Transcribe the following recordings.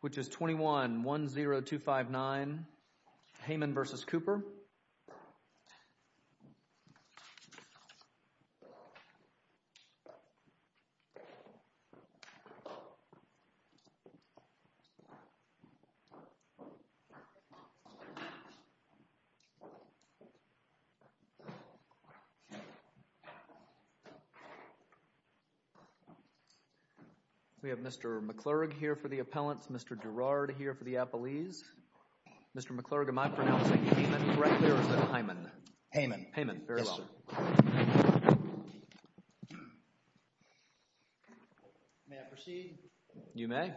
which is 21-10259 Heyman v. Cooper. We have Mr. McClurg here for the appellants, Mr. Girard here for the appellees. Mr. McClurg, am I pronouncing Heyman correctly or is it Heyman? Heyman. Heyman. Very well. Yes, sir. May I proceed? You may.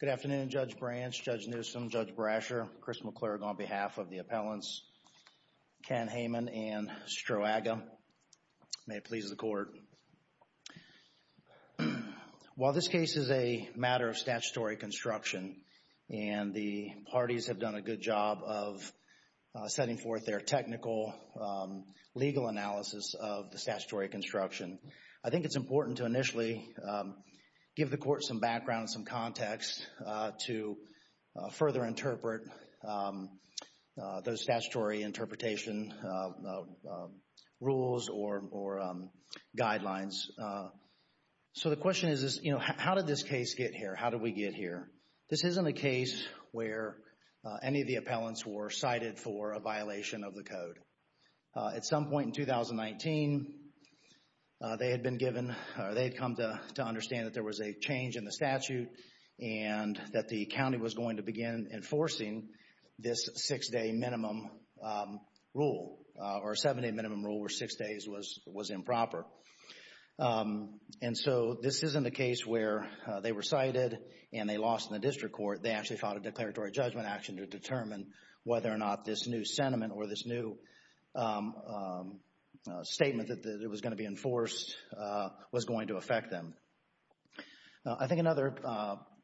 Good afternoon, Judge Branch, Judge Newsom, Judge Brasher, Chris McClurg on behalf of May it please the Court. While this case is a matter of statutory construction and the parties have done a good job of setting forth their technical legal analysis of the statutory construction, I think it's important to initially give the Court some background, some context to further interpret those statutory interpretation rules or guidelines. So the question is, you know, how did this case get here? How did we get here? This isn't a case where any of the appellants were cited for a violation of the Code. At some point in 2019, they had been given or they had come to understand that there was a change in the statute and that the county was going to begin enforcing this six-day minimum rule or seven-day minimum rule where six days was improper. And so this isn't a case where they were cited and they lost in the district court. They actually filed a declaratory judgment action to determine whether or not this new sentiment or this new statement that was going to be enforced was going to affect them. I think another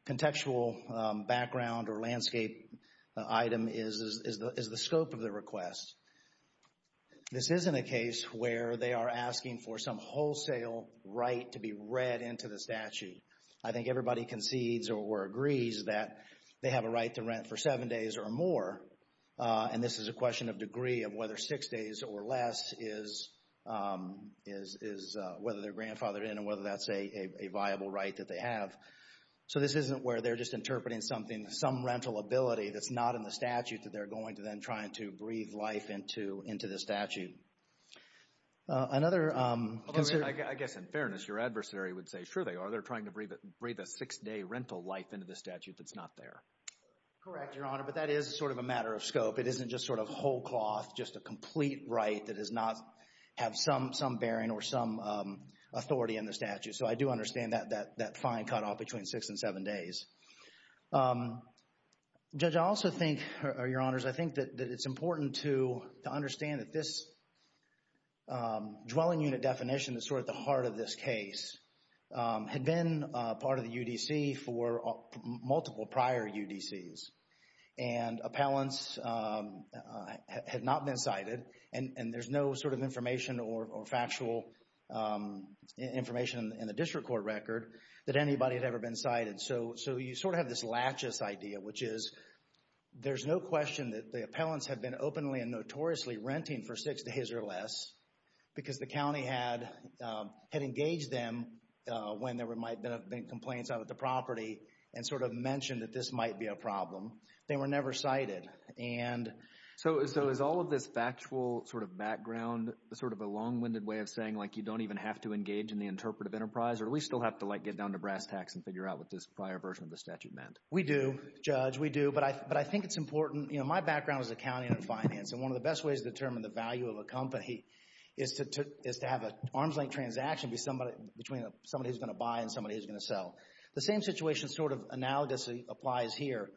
contextual background or landscape item is the scope of the request. This isn't a case where they are asking for some wholesale right to be read into the statute. I think everybody concedes or agrees that they have a right to rent for seven days or more and this is a question of degree of whether six days or less is whether they're grandfathered in and whether that's a viable right that they have. So this isn't where they're just interpreting something, some rental ability that's not in the statute that they're going to then try to breathe life into the statute. Another concern... I guess in fairness, your adversary would say, sure they are, they're trying to breathe a six-day rental life into the statute that's not there. Correct, Your Honor, but that is sort of a matter of scope. It isn't just sort of whole cloth, just a complete right that does not have some bearing or some authority in the statute. So I do understand that fine cut off between six and seven days. Judge, I also think, Your Honors, I think that it's important to understand that this dwelling unit definition is sort of at the heart of this case, had been part of the UDC for multiple prior UDCs and appellants had not been cited and there's no sort of information or factual information in the district court record that anybody had ever been cited. So you sort of have this lachis idea, which is there's no question that the appellants have been openly and notoriously renting for six days or less because the county had engaged them when there might have been complaints out at the property and sort of mentioned that this might be a problem. They were never cited. And so is all of this factual sort of background sort of a long-winded way of saying like you don't even have to engage in the interpretive enterprise or at least you'll have to like get down to brass tacks and figure out what this prior version of the statute meant? We do, Judge, we do, but I think it's important, you know, my background is accounting and finance and one of the best ways to determine the value of a company is to have an arms-length transaction between somebody who's going to buy and somebody who's going to sell. The same situation sort of analogously applies here.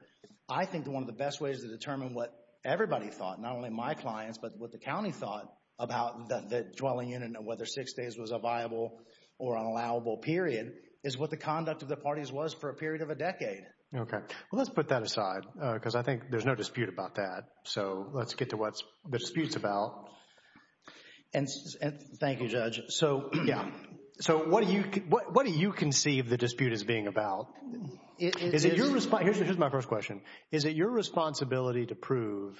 I think one of the best ways to determine what everybody thought, not only my clients, but what the county thought about the dwelling unit and whether six days was a viable or unallowable period is what the conduct of the parties was for a period of a decade. Okay. Well, let's put that aside because I think there's no dispute about that. So let's get to what the dispute's about. And thank you, Judge. So yeah. So what do you conceive the dispute as being about? Is it your responsibility? Here's my first question. Is it your responsibility to prove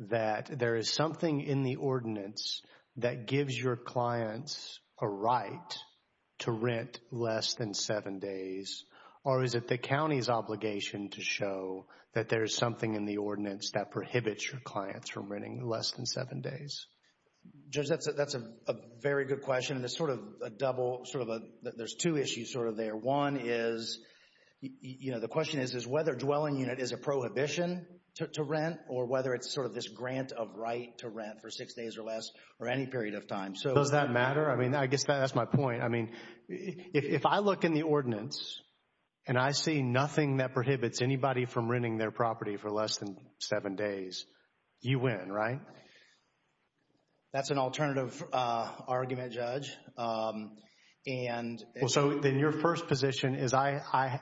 that there is something in the ordinance that gives your clients a right to rent less than seven days or is it the county's obligation to show that there is something in the ordinance that prohibits your clients from renting less than seven days? Judge, that's a very good question and it's sort of a double, sort of a, there's two issues sort of there. One is, you know, the question is, is whether dwelling unit is a prohibition to rent or whether it's sort of this grant of right to rent for six days or less or any period of time. Does that matter? I mean, I guess that's my point. I mean, if I look in the ordinance and I see nothing that prohibits anybody from renting their property for less than seven days, you win, right? That's an alternative argument, Judge. Well, so then your first position is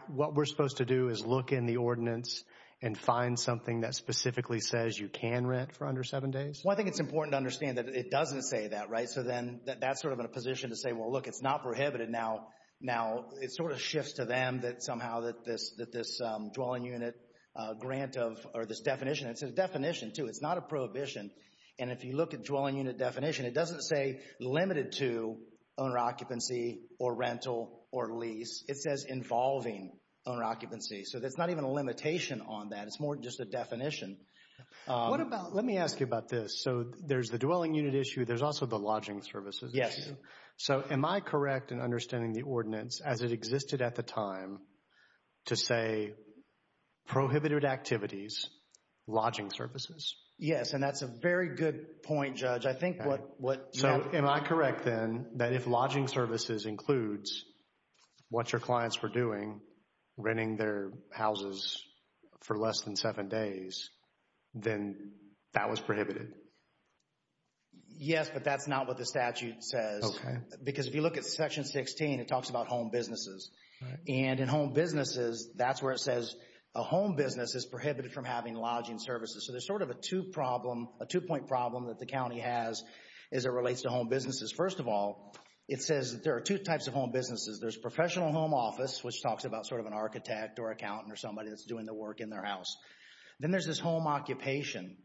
what we're supposed to do is look in the ordinance and find something that specifically says you can rent for under seven days? Well, I think it's important to understand that it doesn't say that, right? So then that's sort of in a position to say, well, look, it's not prohibited now. Now it sort of shifts to them that somehow that this dwelling unit grant of, or this definition, it's a definition too, it's not a prohibition. And if you look at dwelling unit definition, it doesn't say limited to owner occupancy or rental or lease. It says involving owner occupancy. So there's not even a limitation on that. It's more just a definition. What about, let me ask you about this. So there's the dwelling unit issue. There's also the lodging services issue. So am I correct in understanding the ordinance as it existed at the time to say prohibited activities, lodging services? Yes. Yes. And that's a very good point, Judge. I think what- So am I correct then that if lodging services includes what your clients were doing, renting their houses for less than seven days, then that was prohibited? Yes, but that's not what the statute says. Because if you look at section 16, it talks about home businesses. And in home businesses, that's where it says a home business is prohibited from having lodging services. So there's sort of a two problem, a two-point problem that the county has as it relates to home businesses. First of all, it says that there are two types of home businesses. There's professional home office, which talks about sort of an architect or accountant or somebody that's doing the work in their house. Then there's this home occupation.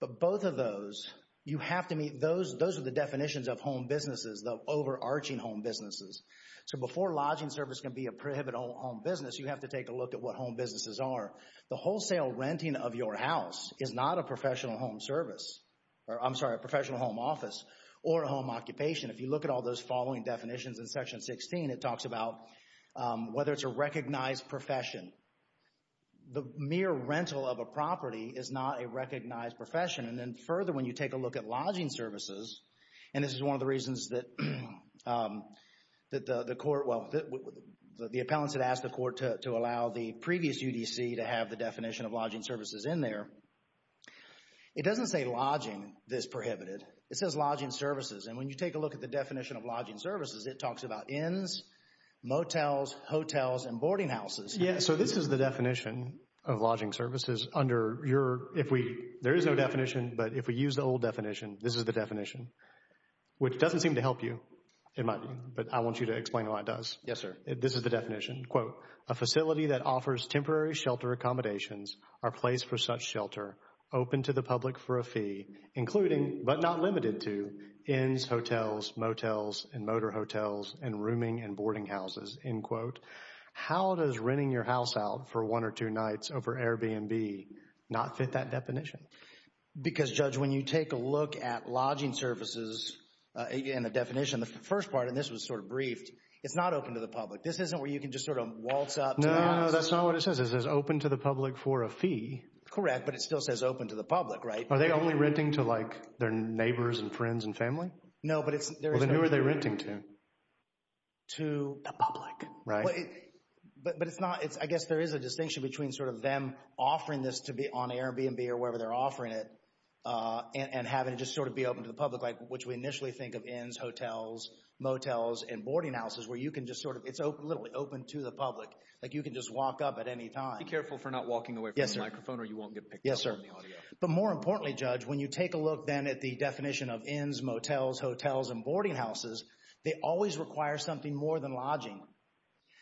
But both of those, you have to meet, those are the definitions of home businesses, the overarching home businesses. So before lodging service can be a prohibited home business, you have to take a look at what home businesses are. The wholesale renting of your house is not a professional home service, or I'm sorry, a professional home office or a home occupation. If you look at all those following definitions in section 16, it talks about whether it's a recognized profession. The mere rental of a property is not a recognized profession. And then further, when you take a look at lodging services, and this is one of the reasons that the court, well, the appellants had asked the court to allow the previous UDC to have the definition of lodging services in there. It doesn't say lodging that's prohibited. It says lodging services, and when you take a look at the definition of lodging services, it talks about inns, motels, hotels, and boarding houses. Yeah, so this is the definition of lodging services under your, if we, there is no definition, but if we use the old definition, this is the definition, which doesn't seem to help you. It might be, but I want you to explain why it does. Yes, sir. This is the definition. Quote, a facility that offers temporary shelter accommodations are placed for such shelter, open to the public for a fee, including, but not limited to, inns, hotels, motels, and motor hotels, and rooming and boarding houses. End quote. How does renting your house out for one or two nights over Airbnb not fit that definition? Because Judge, when you take a look at lodging services, and the definition, the first part, and this was sort of briefed, it's not open to the public. This isn't where you can just sort of waltz up to the house. No, no, no, that's not what it says. It says open to the public for a fee. Correct, but it still says open to the public, right? Are they only renting to like their neighbors and friends and family? No, but it's, there is no fee. Well, then who are they renting to? To the public. Right. But it's not, I guess there is a distinction between sort of them offering this to be on Airbnb or wherever they're offering it, and having it just sort of be open to the public, which we initially think of inns, hotels, motels, and boarding houses, where you can just sort of, it's literally open to the public, like you can just walk up at any time. Be careful for not walking away from the microphone or you won't get picked up on the audio. Yes, sir. But more importantly, Judge, when you take a look then at the definition of inns, motels, hotels, and boarding houses, they always require something more than lodging.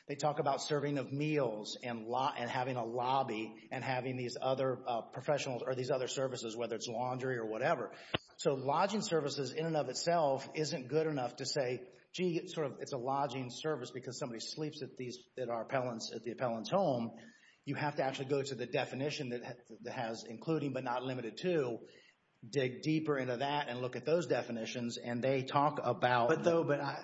They talk about serving of meals and having a lobby and having these other professionals or these other services, whether it's laundry or whatever. So lodging services in and of itself isn't good enough to say, gee, it's a lodging service because somebody sleeps at the appellant's home. You have to actually go to the definition that has including but not limited to, dig deeper into that and look at those definitions, and they talk about... But though, but I,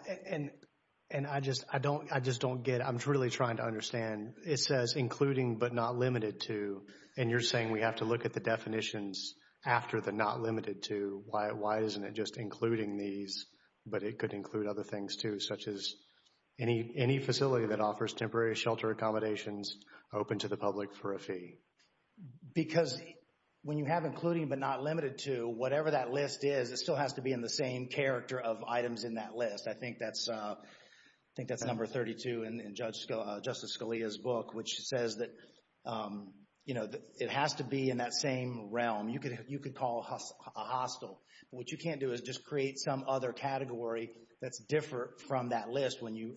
and I just, I don't, I just don't get, I'm really trying to understand, it says including but not limited to, and you're saying we have to look at the definitions after the not limited to, why isn't it just including these, but it could include other things too, such as any facility that offers temporary shelter accommodations open to the public for a fee? Because when you have including but not limited to, whatever that list is, it still has to be in the same character of items in that list. I think that's, I think that's number 32 in Justice Scalia's book, which says that, you know, it has to be in that same realm. You could call a hostel, but what you can't do is just create some other category that's different from that list when you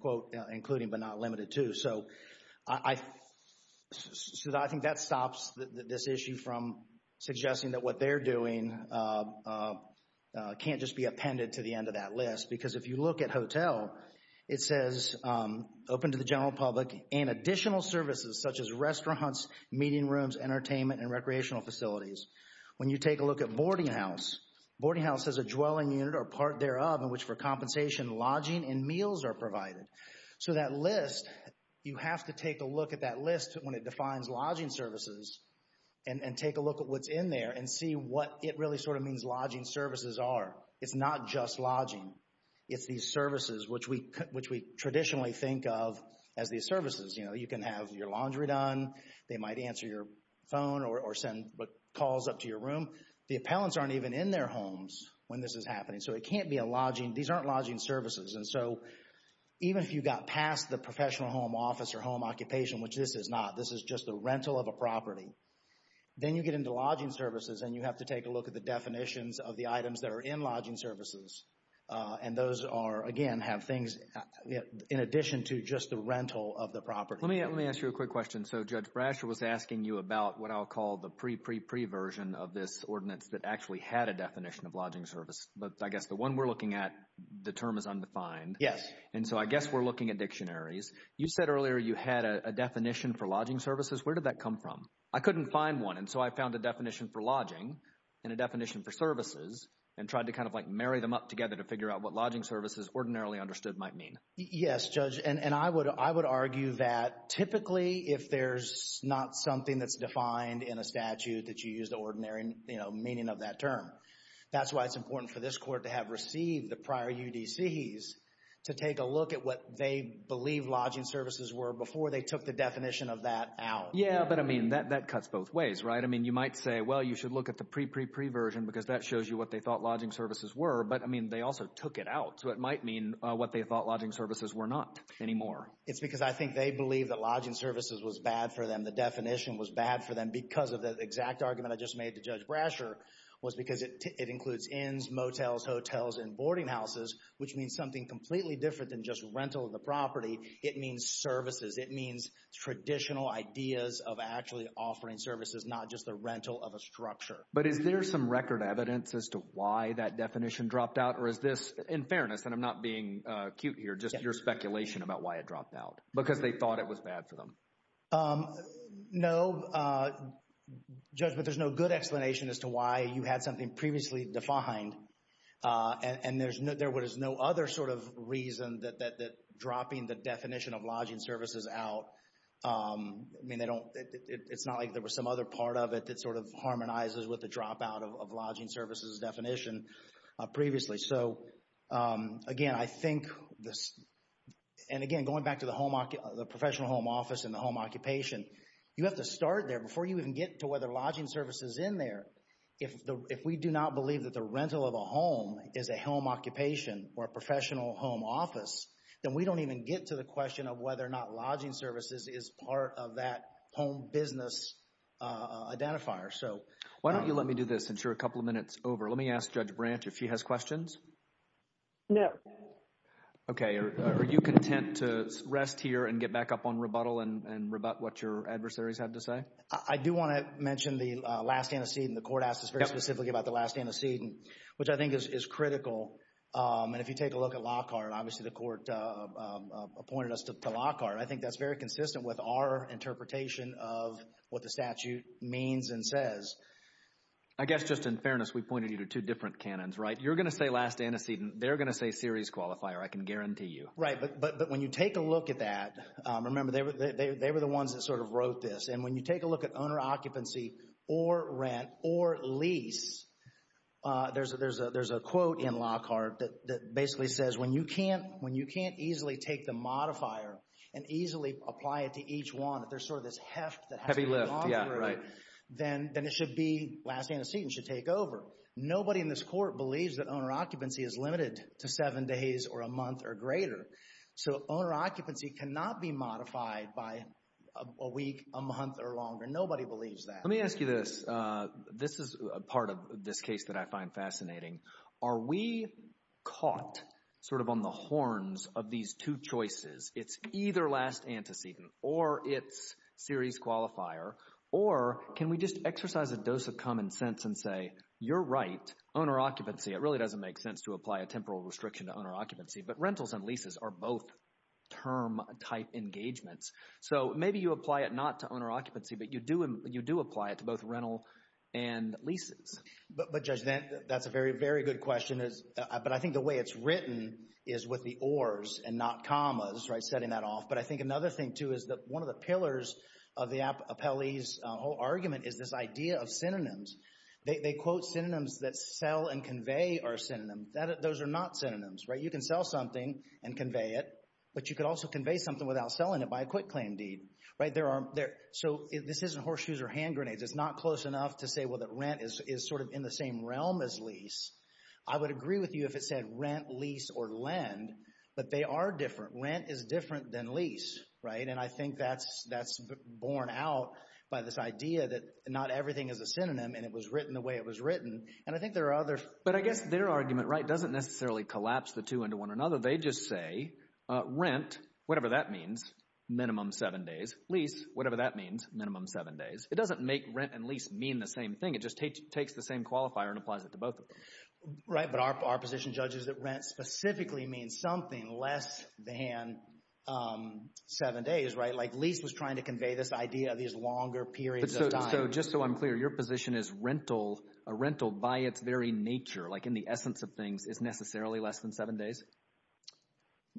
quote including but not limited to. So I, so I think that stops this issue from suggesting that what they're doing can't just be appended to the end of that list, because if you look at hotel, it says open to the general public and additional services such as restaurants, meeting rooms, entertainment, and recreational facilities. When you take a look at boarding house, boarding house is a dwelling unit or part thereof in which for compensation, lodging and meals are provided. So that list, you have to take a look at that list when it defines lodging services and take a look at what's in there and see what it really sort of means lodging services are. It's not just lodging. It's these services which we, which we traditionally think of as these services. You know, you can have your laundry done. They might answer your phone or send calls up to your room. The appellants aren't even in their homes when this is happening. So it can't be a lodging, these aren't lodging services. And so even if you got past the professional home office or home occupation, which this is not, this is just the rental of a property, then you get into lodging services and you have to take a look at the definitions of the items that are in lodging services. And those are, again, have things in addition to just the rental of the property. Let me, let me ask you a quick question. So Judge Brasher was asking you about what I'll call the pre, pre, pre version of this ordinance that actually had a definition of lodging service. But I guess the one we're looking at, the term is undefined. Yes. And so I guess we're looking at dictionaries. You said earlier you had a definition for lodging services. Where did that come from? I couldn't find one. And so I found a definition for lodging and a definition for services and tried to kind of like marry them up together to figure out what lodging services ordinarily understood might mean. Yes, Judge. And I would, I would argue that typically if there's not something that's defined in a statute that you use the ordinary, you know, meaning of that term. That's why it's important for this court to have received the prior UDCs to take a look at what they believe lodging services were before they took the definition of that out. Yeah. But I mean, that, that cuts both ways. Right? I mean, you might say, well, you should look at the pre, pre, pre version because that shows you what they thought lodging services were. But I mean, they also took it out. So it might mean what they thought lodging services were not anymore. It's because I think they believe that lodging services was bad for them. The definition was bad for them because of the exact argument I just made to Judge Brasher was because it includes inns, motels, hotels, and boarding houses, which means something completely different than just rental of the property. It means services. It means traditional ideas of actually offering services, not just the rental of a structure. But is there some record evidence as to why that definition dropped out? Or is this, in fairness, and I'm not being cute here, just your speculation about why it dropped out? Because they thought it was bad for them. No. No, Judge, but there's no good explanation as to why you had something previously defined. And there's no, there was no other sort of reason that, that, that dropping the definition of lodging services out, I mean, they don't, it's not like there was some other part of it that sort of harmonizes with the dropout of lodging services definition previously. So again, I think this, and again, going back to the home, the professional home office and the home occupation, you have to start there before you even get to whether lodging services is in there. If the, if we do not believe that the rental of a home is a home occupation or a professional home office, then we don't even get to the question of whether or not lodging services is part of that home business identifier. So why don't you let me do this since you're a couple of minutes over. Let me ask Judge Branch if she has questions. No. Okay. Are you content to rest here and get back up on rebuttal and, and rebut what your adversaries had to say? I do want to mention the last antecedent. The court asked us very specifically about the last antecedent, which I think is, is critical. And if you take a look at Lockhart, obviously the court appointed us to Lockhart. I think that's very consistent with our interpretation of what the statute means and says. I guess just in fairness, we pointed you to two different canons, right? You're going to say last antecedent. They're going to say series qualifier. I can guarantee you. Right. But, but when you take a look at that, remember they were, they, they were the ones that sort of wrote this. And when you take a look at owner occupancy or rent or lease, there's a, there's a, there's a quote in Lockhart that, that basically says when you can't, when you can't easily take the modifier and easily apply it to each one, if there's sort of this heft that has to be gone through, then, then it should be last antecedent, should take over. Nobody in this court believes that owner occupancy is limited to seven days or a month or greater. So owner occupancy cannot be modified by a week, a month or longer. Nobody believes that. Let me ask you this. This is a part of this case that I find fascinating. Are we caught sort of on the horns of these two choices? It's either last antecedent or it's series qualifier, or can we just exercise a dose of common sense and say, you're right, owner occupancy, it really doesn't make sense to apply a temporal restriction to owner occupancy. But rentals and leases are both term type engagements. So maybe you apply it not to owner occupancy, but you do, you do apply it to both rental and leases. But, but Judge, that, that's a very, very good question, but I think the way it's written is with the ors and not commas, right, setting that off. But I think another thing too is that one of the pillars of the appellee's whole argument is this idea of synonyms. They quote synonyms that sell and convey are synonyms. Those are not synonyms, right? You can sell something and convey it, but you could also convey something without selling it by a quitclaim deed, right? There are, so this isn't horseshoes or hand grenades. It's not close enough to say, well, that rent is sort of in the same realm as lease. I would agree with you if it said rent, lease or lend, but they are different. Rent is different than lease, right? And I think that's, that's borne out by this idea that not everything is a synonym and it was written the way it was written. And I think there are others. But I guess their argument, right, doesn't necessarily collapse the two into one another. They just say rent, whatever that means, minimum seven days. Lease, whatever that means, minimum seven days. It doesn't make rent and lease mean the same thing. It just takes the same qualifier and applies it to both of them. Right. But our position, Judge, is that rent specifically means something less than seven days, right? Like lease was trying to convey this idea of these longer periods of time. But so, just so I'm clear, your position is rental, a rental by its very nature, like in the essence of things, is necessarily less than seven days?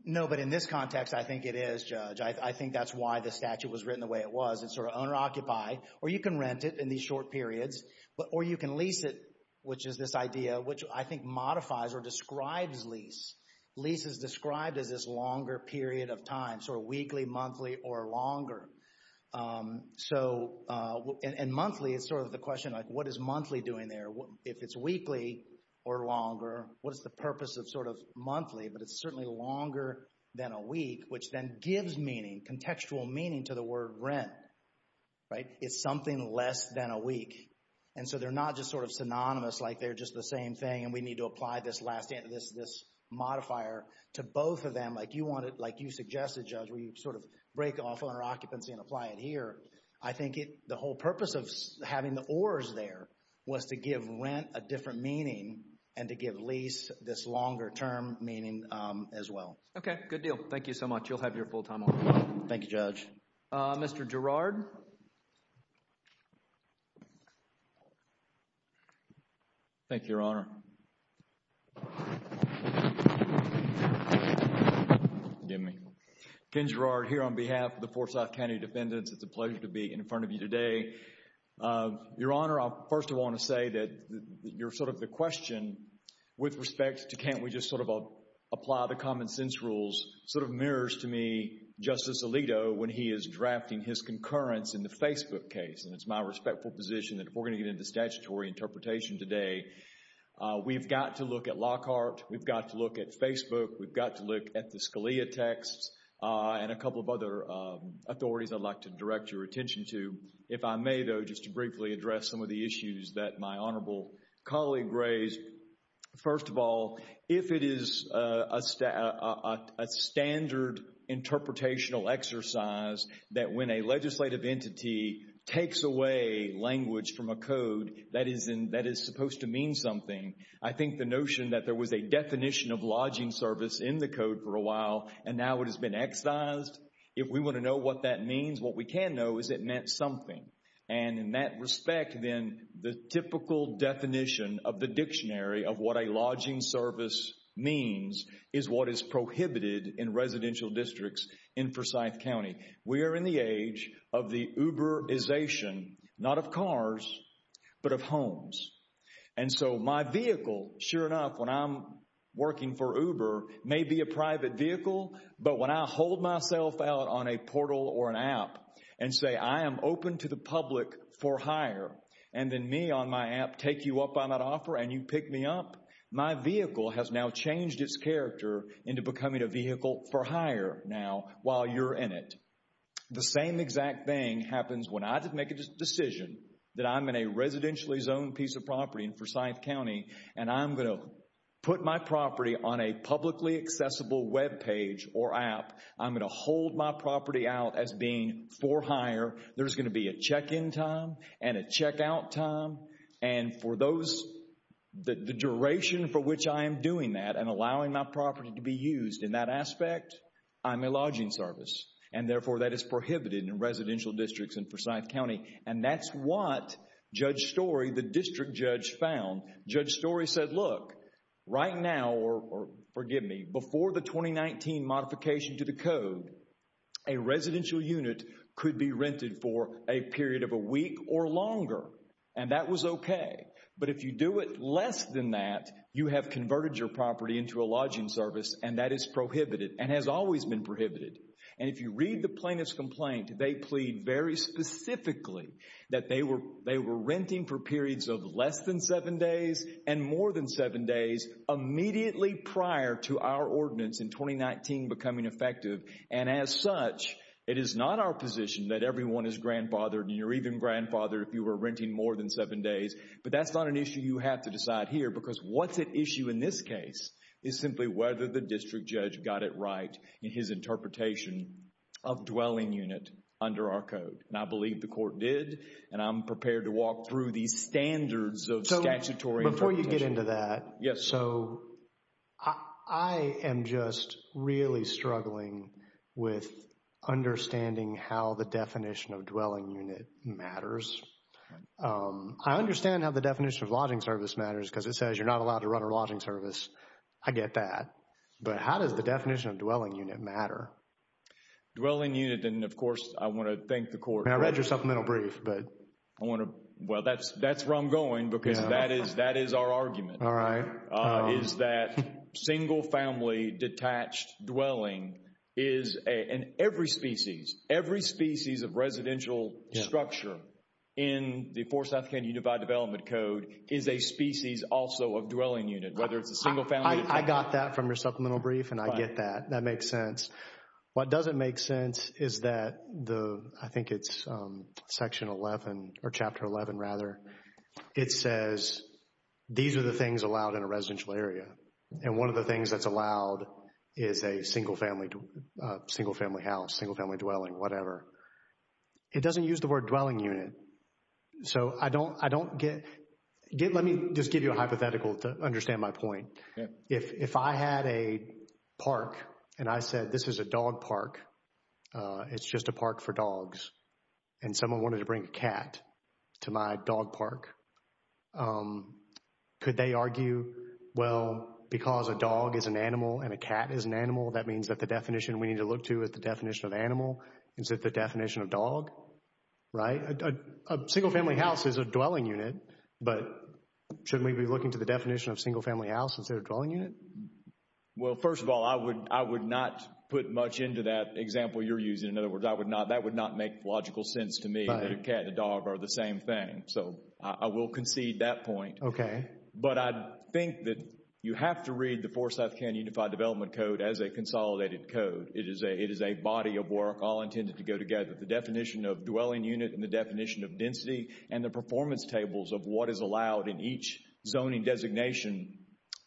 No, but in this context, I think it is, Judge. I think that's why the statute was written the way it was. It's sort of owner-occupied. Or you can rent it in these short periods. Or you can lease it, which is this idea, which I think modifies or describes lease. Lease is described as this longer period of time, sort of weekly, monthly, or longer. So and monthly is sort of the question, like what is monthly doing there? If it's weekly or longer, what is the purpose of sort of monthly, but it's certainly longer than a week, which then gives meaning, contextual meaning, to the word rent, right? It's something less than a week. And so they're not just sort of synonymous, like they're just the same thing, and we need to apply this last, this modifier to both of them. Like you wanted, like you suggested, Judge, where you sort of break off owner-occupancy and apply it here. I think the whole purpose of having the or's there was to give rent a different meaning and to give lease this longer-term meaning as well. Okay, good deal. You'll have your full-time honor. Thank you, Judge. Mr. Girard? Thank you, Your Honor. Forgive me. Ken Girard here on behalf of the Forsyth County Defendants. It's a pleasure to be in front of you today. Your Honor, I first want to say that you're sort of the question with respect to can't we just sort of apply the common sense rules, sort of mirrors to me Justice Alito when he is drafting his concurrence in the Facebook case, and it's my respectful position that if we're going to get into statutory interpretation today, we've got to look at Lockhart. We've got to look at Facebook. We've got to look at the Scalia texts and a couple of other authorities I'd like to direct your attention to. If I may, though, just to briefly address some of the issues that my honorable colleague raised. First of all, if it is a standard interpretational exercise that when a legislative entity takes away language from a code that is supposed to mean something, I think the notion that there was a definition of lodging service in the code for a while and now it has been excised, if we want to know what that means, what we can know is it meant something. And in that respect, then, the typical definition of the dictionary of what a lodging service means is what is prohibited in residential districts in Forsyth County. We are in the age of the Uber-ization, not of cars, but of homes. And so my vehicle, sure enough, when I'm working for Uber, may be a private vehicle, but when I hold myself out on a portal or an app and say I am open to the public for hire, and then me on my app take you up on that offer and you pick me up, my vehicle has now changed its character into becoming a vehicle for hire now while you're in it. The same exact thing happens when I make a decision that I'm in a residentially zoned piece of property in Forsyth County and I'm going to put my property on a publicly accessible web page or app, I'm going to hold my property out as being for hire, there's going to be a check-in time and a check-out time, and for those, the duration for which I am doing that and allowing my property to be used in that aspect, I'm a lodging service. And therefore, that is prohibited in residential districts in Forsyth County. And that's what Judge Story, the district judge, found. Judge Story said, look, right now, or forgive me, before the 2019 modification to the code, a residential unit could be rented for a period of a week or longer. And that was okay. But if you do it less than that, you have converted your property into a lodging service and that is prohibited and has always been prohibited. And if you read the plaintiff's complaint, they plead very specifically that they were renting for periods of less than seven days and more than seven days immediately prior to our ordinance in 2019 becoming effective. And as such, it is not our position that everyone is grandfathered and you're even grandfathered if you were renting more than seven days. But that's not an issue you have to decide here because what's at issue in this case is simply whether the district judge got it right in his interpretation of dwelling unit under our code. And I believe the court did. And I'm prepared to walk through these standards of statutory interpretation. So before you get into that, so I am just really struggling with understanding how the definition of dwelling unit matters. I understand how the definition of lodging service matters because it says you're not allowed to run a lodging service. I get that. But how does the definition of dwelling unit matter? Dwelling unit, and of course, I want to thank the court. And I read your supplemental brief, but I want to... Well, that's where I'm going because that is our argument. All right. Is that single family detached dwelling is in every species, every species of residential structure in the Fort South County Unified Development Code is a species also of dwelling unit, whether it's a single family. I got that from your supplemental brief and I get that. That makes sense. What doesn't make sense is that the, I think it's Section 11 or Chapter 11 rather, it says these are the things allowed in a residential area. And one of the things that's allowed is a single family, single family house, single family dwelling, whatever. It doesn't use the word dwelling unit. So I don't, I don't get, let me just give you a hypothetical to understand my point. If I had a park and I said, this is a dog park, it's just a park for dogs. And someone wanted to bring a cat to my dog park. Could they argue, well, because a dog is an animal and a cat is an animal, that means that the definition we need to look to is the definition of animal. Is it the definition of dog? Right? A single family house is a dwelling unit, but shouldn't we be looking to the definition of single family house instead of dwelling unit? Well, first of all, I would, I would not put much into that example you're using. In other words, I would not, that would not make logical sense to me that a cat and a dog are the same thing. So I will concede that point. Okay. But I think that you have to read the Foresouth County Unified Development Code as a consolidated code. It is a, it is a body of work all intended to go together. The definition of dwelling unit and the definition of density and the performance tables of what is allowed in each zoning designation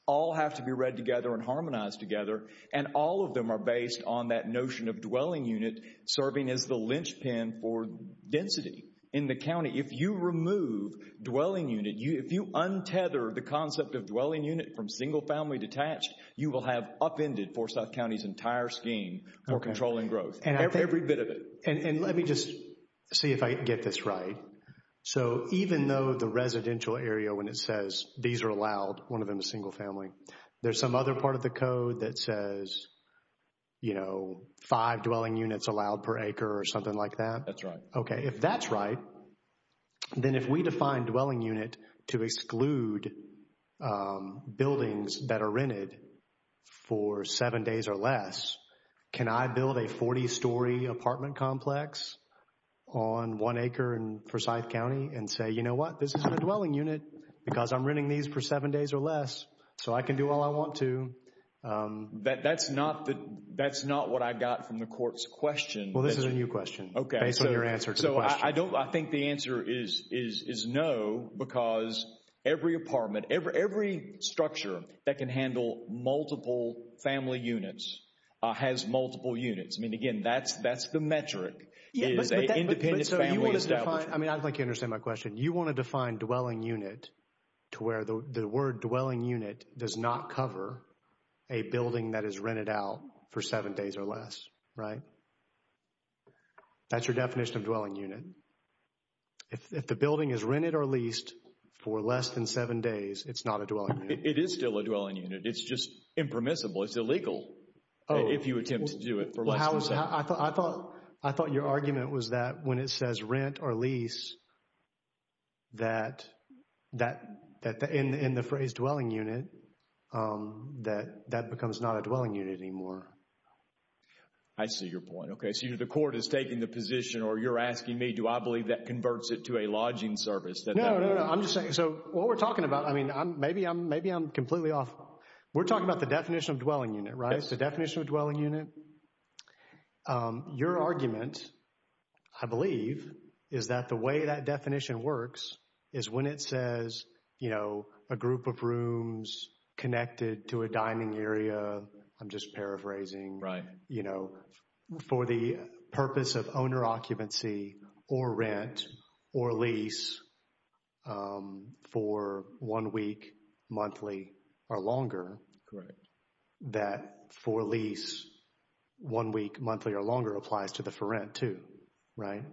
all have to be read together and harmonized together. And all of them are based on that notion of dwelling unit serving as the linchpin for density. In the county, if you remove dwelling unit, if you untether the concept of dwelling unit from single family detached, you will have upended Foresouth County's entire scheme for controlling growth. Okay. Every bit of it. And let me just see if I get this right. Right. So even though the residential area when it says these are allowed, one of them is single family, there's some other part of the code that says, you know, five dwelling units allowed per acre or something like that? That's right. Okay. If that's right, then if we define dwelling unit to exclude buildings that are rented for seven days or less, can I build a 40-story apartment complex on one acre in Forsyth County and say, you know what? This isn't a dwelling unit because I'm renting these for seven days or less. So I can do all I want to. That's not what I got from the court's question. Well, this is a new question. Okay. Based on your answer to the question. So I think the answer is no because every apartment, every structure that can handle multiple family units, has multiple units. I mean, again, that's the metric is an independent family establishment. I mean, I think you understand my question. You want to define dwelling unit to where the word dwelling unit does not cover a building that is rented out for seven days or less, right? That's your definition of dwelling unit. If the building is rented or leased for less than seven days, it's not a dwelling unit. It is still a dwelling unit. It's just impermissible. It's illegal if you attempt to do it for less than seven days. I thought your argument was that when it says rent or lease, that in the phrase dwelling unit, that that becomes not a dwelling unit anymore. I see your point. Okay. So the court is taking the position or you're asking me, do I believe that converts it to a lodging service? No, no, no. I'm just saying. So what we're talking about, I mean, maybe I'm completely off. We're talking about the definition of dwelling unit, right? It's the definition of dwelling unit. Your argument, I believe, is that the way that definition works is when it says a group of rooms connected to a dining area, I'm just paraphrasing, for the purpose of owner occupancy or rent or lease for one week, monthly or longer. Correct. That for lease, one week, monthly or longer applies to the for rent too, right?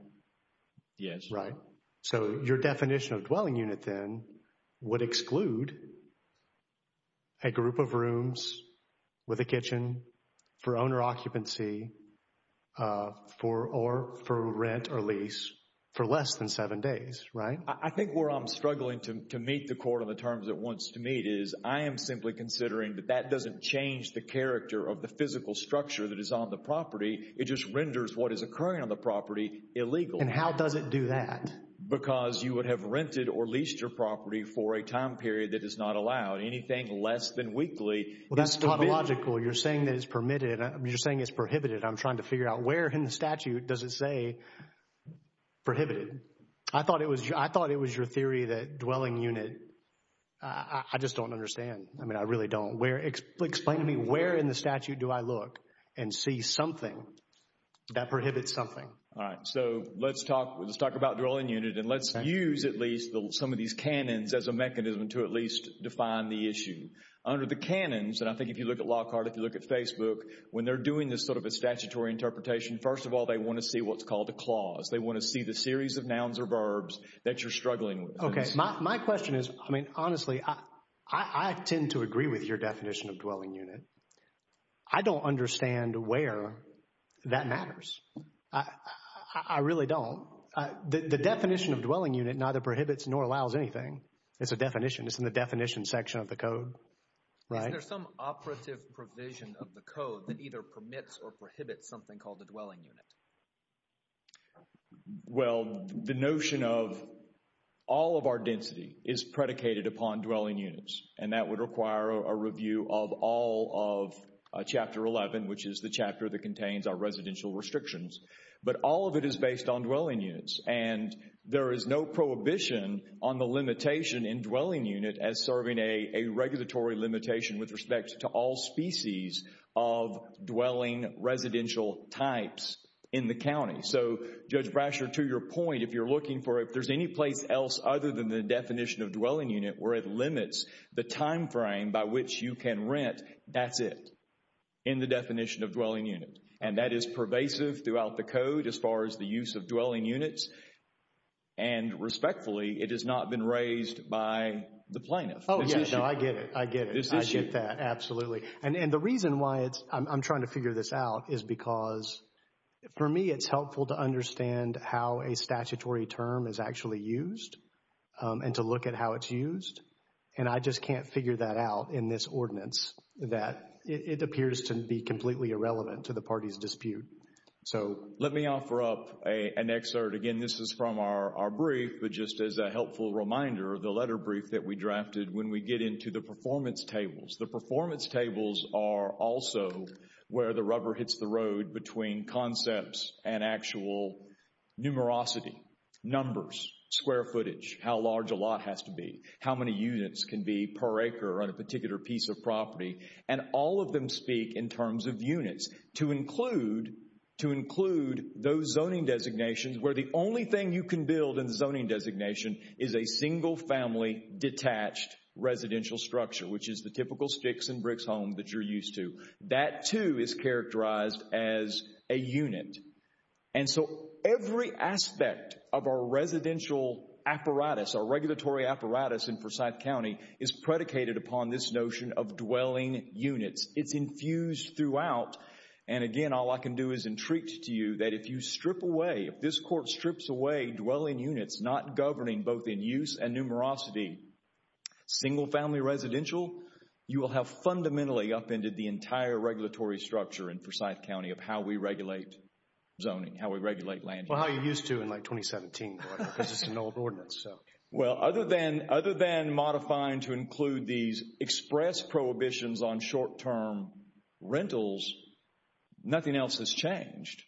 Yes. Right. So your definition of dwelling unit then would exclude a group of rooms with a kitchen for for rent or lease for less than seven days, right? I think where I'm struggling to meet the court on the terms it wants to meet is I am simply considering that that doesn't change the character of the physical structure that is on the property. It just renders what is occurring on the property illegal. And how does it do that? Because you would have rented or leased your property for a time period that is not allowed. Anything less than weekly. Well, that's not logical. You're saying that it's permitted. You're saying it's prohibited. I'm trying to figure out where in the statute does it say prohibited? I thought it was your theory that dwelling unit, I just don't understand. I mean, I really don't. Explain to me where in the statute do I look and see something that prohibits something? All right. So let's talk about dwelling unit and let's use at least some of these canons as a mechanism to at least define the issue. Under the canons, and I think if you look at LawCard, if you look at Facebook, when they're doing this sort of a statutory interpretation, first of all, they want to see what's called a clause. They want to see the series of nouns or verbs that you're struggling with. Okay. My question is, I mean, honestly, I tend to agree with your definition of dwelling unit. I don't understand where that matters. I really don't. The definition of dwelling unit neither prohibits nor allows anything. It's a definition. It's in the definition section of the code. Right? Is there some operative provision of the code that either permits or prohibits something called a dwelling unit? Well, the notion of all of our density is predicated upon dwelling units, and that would require a review of all of Chapter 11, which is the chapter that contains our residential restrictions. But all of it is based on dwelling units, and there is no prohibition on the limitation in dwelling unit as serving a regulatory limitation with respect to all species of dwelling residential types in the county. So Judge Brasher, to your point, if you're looking for, if there's any place else other than the definition of dwelling unit where it limits the time frame by which you can rent, that's it in the definition of dwelling unit. And that is pervasive throughout the code as far as the use of dwelling units, and respectfully, it has not been raised by the plaintiff. Oh, yeah. No, I get it. I get it. I get that. Absolutely. And the reason why I'm trying to figure this out is because, for me, it's helpful to understand how a statutory term is actually used and to look at how it's used. And I just can't figure that out in this ordinance that it appears to be completely irrelevant to the party's dispute. So let me offer up an excerpt, again, this is from our brief, but just as a helpful reminder of the letter brief that we drafted when we get into the performance tables. The performance tables are also where the rubber hits the road between concepts and actual numerosity, numbers, square footage, how large a lot has to be, how many units can be per acre on a particular piece of property. And all of them speak in terms of units to include those zoning designations where the only thing you can build in the zoning designation is a single family detached residential structure, which is the typical sticks and bricks home that you're used to. That too is characterized as a unit. And so every aspect of our residential apparatus, our regulatory apparatus in Forsyth County is predicated upon this notion of dwelling units. It's infused throughout. And again, all I can do is entreat to you that if you strip away, if this court strips away dwelling units not governing both in use and numerosity, single family residential, you will have fundamentally upended the entire regulatory structure in Forsyth County of how we regulate zoning, how we regulate land. Well, how you used to in like 2017, because it's an old ordinance. Well, other than modifying to include these express prohibitions on short-term rentals, nothing else has changed.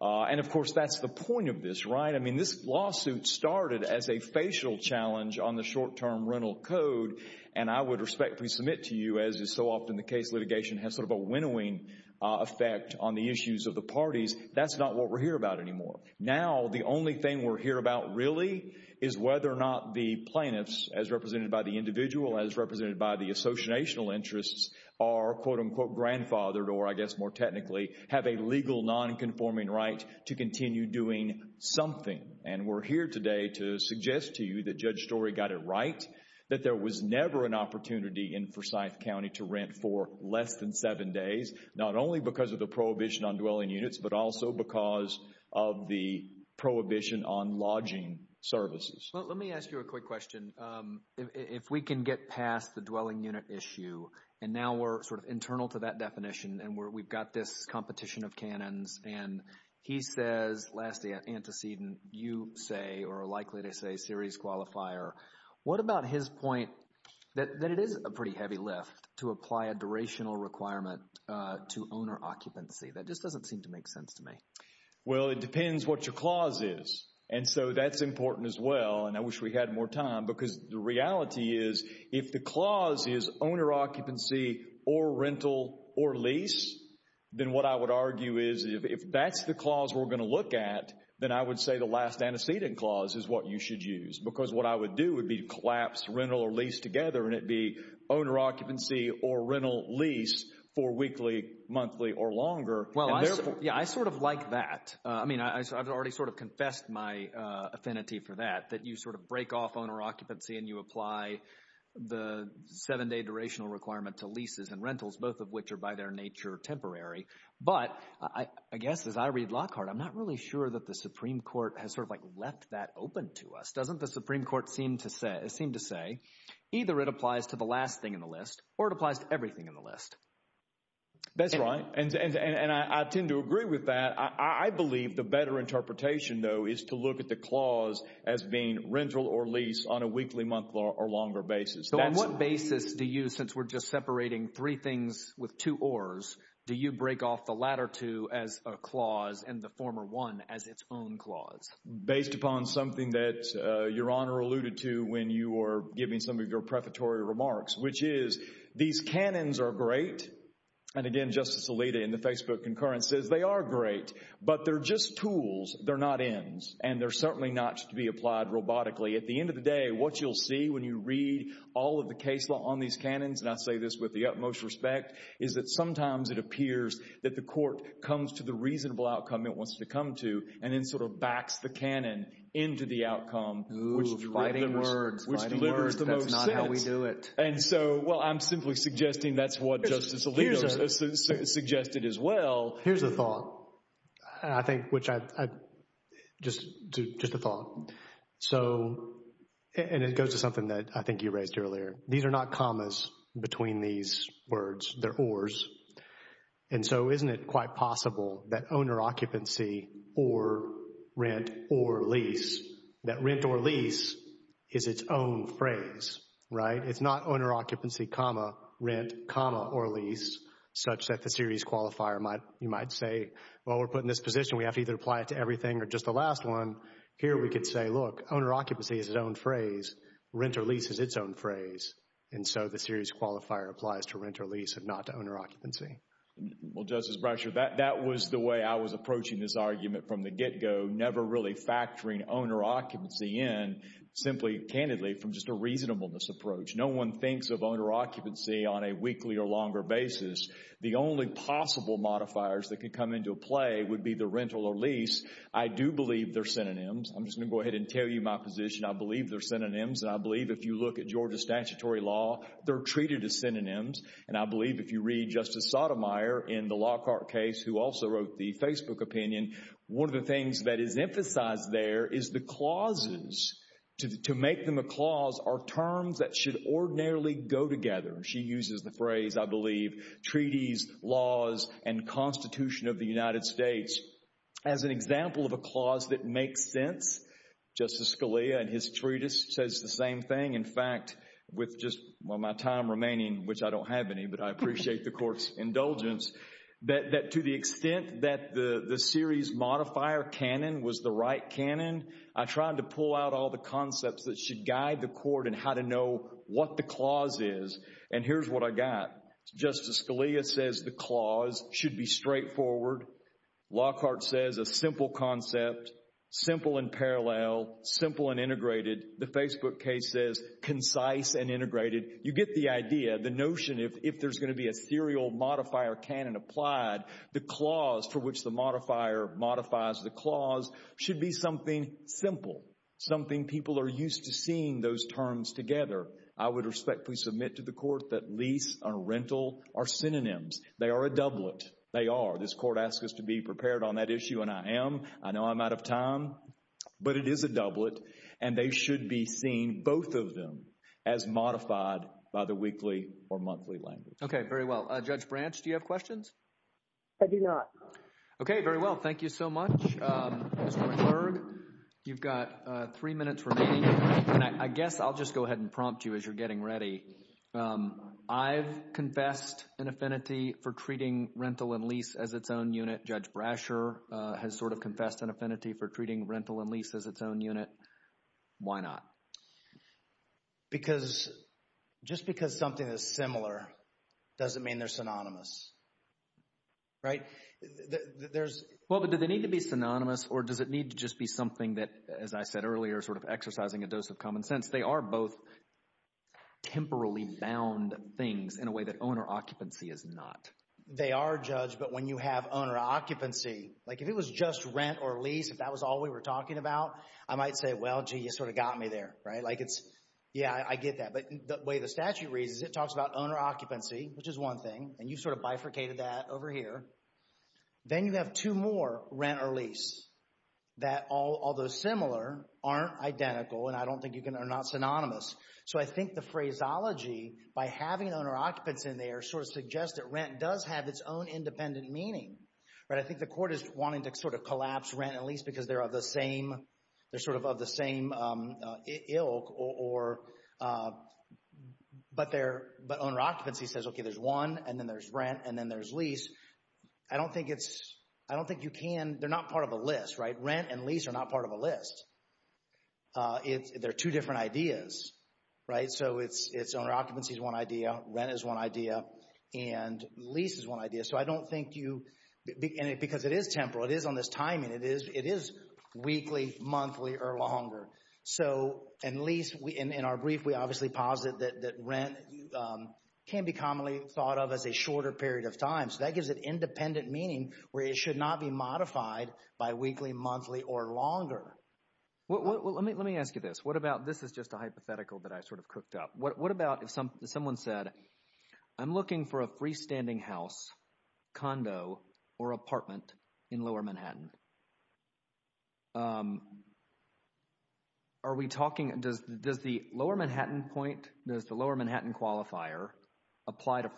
And of course, that's the point of this, right? I mean, this lawsuit started as a facial challenge on the short-term rental code. And I would respectfully submit to you, as is so often the case litigation has sort of a winnowing effect on the issues of the parties, that's not what we're here about anymore. Now, the only thing we're here about really is whether or not the plaintiffs, as represented by the individual, as represented by the associational interests, are quote-unquote grandfathered or, I guess more technically, have a legal non-conforming right to continue doing something. And we're here today to suggest to you that Judge Story got it right, that there was never an opportunity in Forsyth County to rent for less than seven days, not only because of the prohibition on dwelling units, but also because of the prohibition on lodging services. Well, let me ask you a quick question. If we can get past the dwelling unit issue, and now we're sort of internal to that definition, and we've got this competition of canons, and he says, lastly, antecedent, you say, or are likely to say series qualifier, what about his point that it is a pretty heavy lift to apply a durational requirement to owner occupancy? That just doesn't seem to make sense to me. Well, it depends what your clause is. And so that's important as well, and I wish we had more time, because the reality is if the clause is owner occupancy or rental or lease, then what I would argue is if that's the clause we're going to look at, then I would say the last antecedent clause is what you should use. Because what I would do would be collapse rental or lease together, and it'd be owner occupancy or rental lease for weekly, monthly, or longer. Well, yeah, I sort of like that. I mean, I've already sort of confessed my affinity for that, that you sort of break off owner occupancy and you apply the seven-day durational requirement to leases and rentals, both of which are by their nature temporary. But I guess as I read Lockhart, I'm not really sure that the Supreme Court has sort of like left that open to us. Doesn't the Supreme Court seem to say either it applies to the last thing in the list or it applies to everything in the list? That's right, and I tend to agree with that. I believe the better interpretation, though, is to look at the clause as being rental or lease on a weekly, monthly, or longer basis. So on what basis do you, since we're just separating three things with two ors, do you break off the latter two as a clause and the former one as its own clause? Based upon something that Your Honor alluded to when you were giving some of your prefatory remarks, which is these canons are great, and again, Justice Alito in the Facebook concurrence says they are great, but they're just tools. They're not ends, and they're certainly not to be applied robotically. At the end of the day, what you'll see when you read all of the case law on these canons, and I say this with the utmost respect, is that sometimes it appears that the court comes to the reasonable outcome it wants to come to, and then sort of backs the canon into the outcome, which delivers the most sense, and so, well, I'm simply suggesting that's what Justice Alito suggested as well. Here's a thought, and I think, which I, just a thought, so, and it goes to something that I think you raised earlier. These are not commas between these words. They're ors, and so isn't it quite possible that owner occupancy or rent or lease, that rent or lease is its own phrase, right? It's not owner occupancy comma rent comma or lease, such that the series qualifier might, you might say, well, we're put in this position, we have to either apply it to everything or just the last one. Here we could say, look, owner occupancy is its own phrase, rent or lease is its own phrase, and so the series qualifier applies to rent or lease and not to owner occupancy. Well, Justice Brasher, that was the way I was approaching this argument from the get-go, never really factoring owner occupancy in, simply, candidly, from just a reasonableness approach. No one thinks of owner occupancy on a weekly or longer basis. The only possible modifiers that could come into play would be the rental or lease. I do believe they're synonyms. I'm just going to go ahead and tell you my position. I believe they're synonyms, and I believe if you look at Georgia statutory law, they're treated as synonyms, and I believe if you read Justice Sotomayor in the Lockhart case who also wrote the Facebook opinion, one of the things that is emphasized there is the clauses, to make them a clause, are terms that should ordinarily go together. She uses the phrase, I believe, treaties, laws, and constitution of the United States as an example of a clause that makes sense. Justice Scalia in his treatise says the same thing. In fact, with just my time remaining, which I don't have any, but I appreciate the court's indulgence, that to the extent that the series modifier canon was the right canon, I tried to pull out all the concepts that should guide the court in how to know what the clause is, and here's what I got. Justice Scalia says the clause should be straightforward. Lockhart says a simple concept, simple and parallel, simple and integrated. The Facebook case says concise and integrated. You get the idea, the notion, if there's going to be a serial modifier canon applied, the clause for which the modifier modifies the clause should be something simple, something people are used to seeing those terms together. I would respectfully submit to the court that lease or rental are synonyms. They are a doublet. They are. This court asks us to be prepared on that issue, and I am. I know I'm out of time, but it is a doublet, and they should be seen, both of them, as modified by the weekly or monthly language. Okay, very well. Judge Branch, do you have questions? I do not. Okay, very well. Thank you so much. I'm going to prompt you as you're getting ready. I've confessed an affinity for treating rental and lease as its own unit. Judge Brasher has sort of confessed an affinity for treating rental and lease as its own unit. Why not? Just because something is similar doesn't mean they're synonymous, right? Well, but do they need to be synonymous, or does it need to just be something that, as I said earlier, sort of exercising a dose of common sense? They are both temporally bound things in a way that owner occupancy is not. They are, Judge, but when you have owner occupancy, like if it was just rent or lease, if that was all we were talking about, I might say, well, gee, you sort of got me there, right? Like it's, yeah, I get that, but the way the statute reads is it talks about owner occupancy, which is one thing, and you sort of bifurcated that over here. Then you have two more, rent or lease, that although similar, aren't identical, and I don't think you can, are not synonymous. So I think the phraseology, by having owner occupancy in there, sort of suggests that rent does have its own independent meaning, right? I think the court is wanting to sort of collapse rent and lease because they're sort of of the same ilk, but owner occupancy says, okay, there's one, and then there's rent, and then there's lease. I don't think it's, I don't think you can, they're not part of a list, right? Rent and lease are not part of a list. They're two different ideas, right? So it's owner occupancy is one idea, rent is one idea, and lease is one idea. So I don't think you, because it is temporal, it is on this timing, it is weekly, monthly, or longer. So in lease, in our brief, we obviously posit that rent can be commonly thought of as a time. So that gives it independent meaning where it should not be modified by weekly, monthly, or longer. Well, let me ask you this. What about, this is just a hypothetical that I sort of cooked up. What about if someone said, I'm looking for a freestanding house, condo, or apartment in Lower Manhattan? Are we talking, does the Lower Manhattan point, does the Lower Manhattan qualifier apply to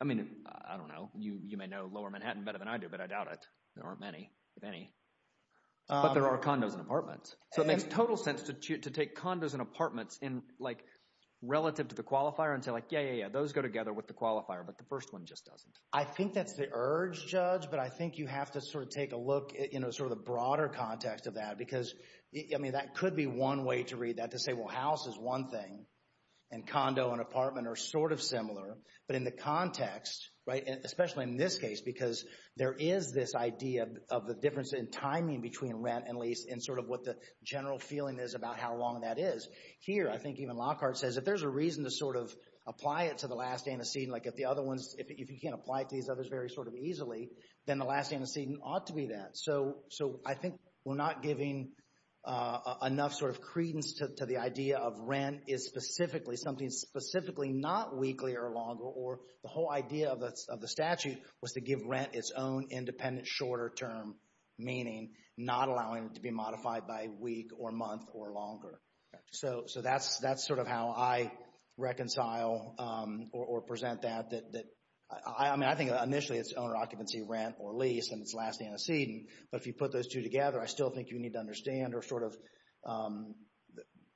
I mean, I don't know, you may know Lower Manhattan better than I do, but I doubt it. There aren't many, if any, but there are condos and apartments. So it makes total sense to take condos and apartments in, like, relative to the qualifier and say like, yeah, yeah, yeah, those go together with the qualifier, but the first one just doesn't. I think that's the urge, Judge, but I think you have to sort of take a look, you know, sort of the broader context of that because, I mean, that could be one way to read that to say, well, house is one thing, and condo and apartment are sort of similar, but in the context, right, especially in this case, because there is this idea of the difference in timing between rent and lease and sort of what the general feeling is about how long that is. Here, I think even Lockhart says if there's a reason to sort of apply it to the last antecedent, like if the other ones, if you can't apply it to these others very sort of easily, then the last antecedent ought to be that. So I think we're not giving enough sort of credence to the idea of rent is specifically something specifically not weekly or longer, or the whole idea of the statute was to give rent its own independent shorter term meaning, not allowing it to be modified by week or month or longer. So that's sort of how I reconcile or present that. I mean, I think initially it's owner occupancy, rent, or lease, and it's last antecedent, but if you put those two together, I still think you need to understand or sort of,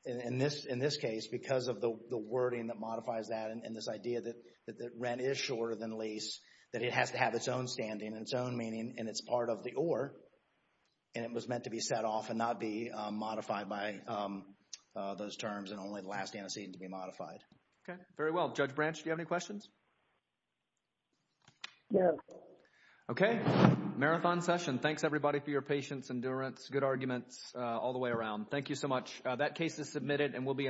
in this case, because of the wording that modifies that and this idea that rent is shorter than lease, that it has to have its own standing and its own meaning, and it's part of the or, and it was meant to be set off and not be modified by those terms and only the last antecedent to be modified. Okay. Very well. Judge Branch, do you have any questions? No. Okay. Marathon session. Thanks, everybody, for your patience, endurance, good arguments all the way around. Thank you so much. That case is submitted and will be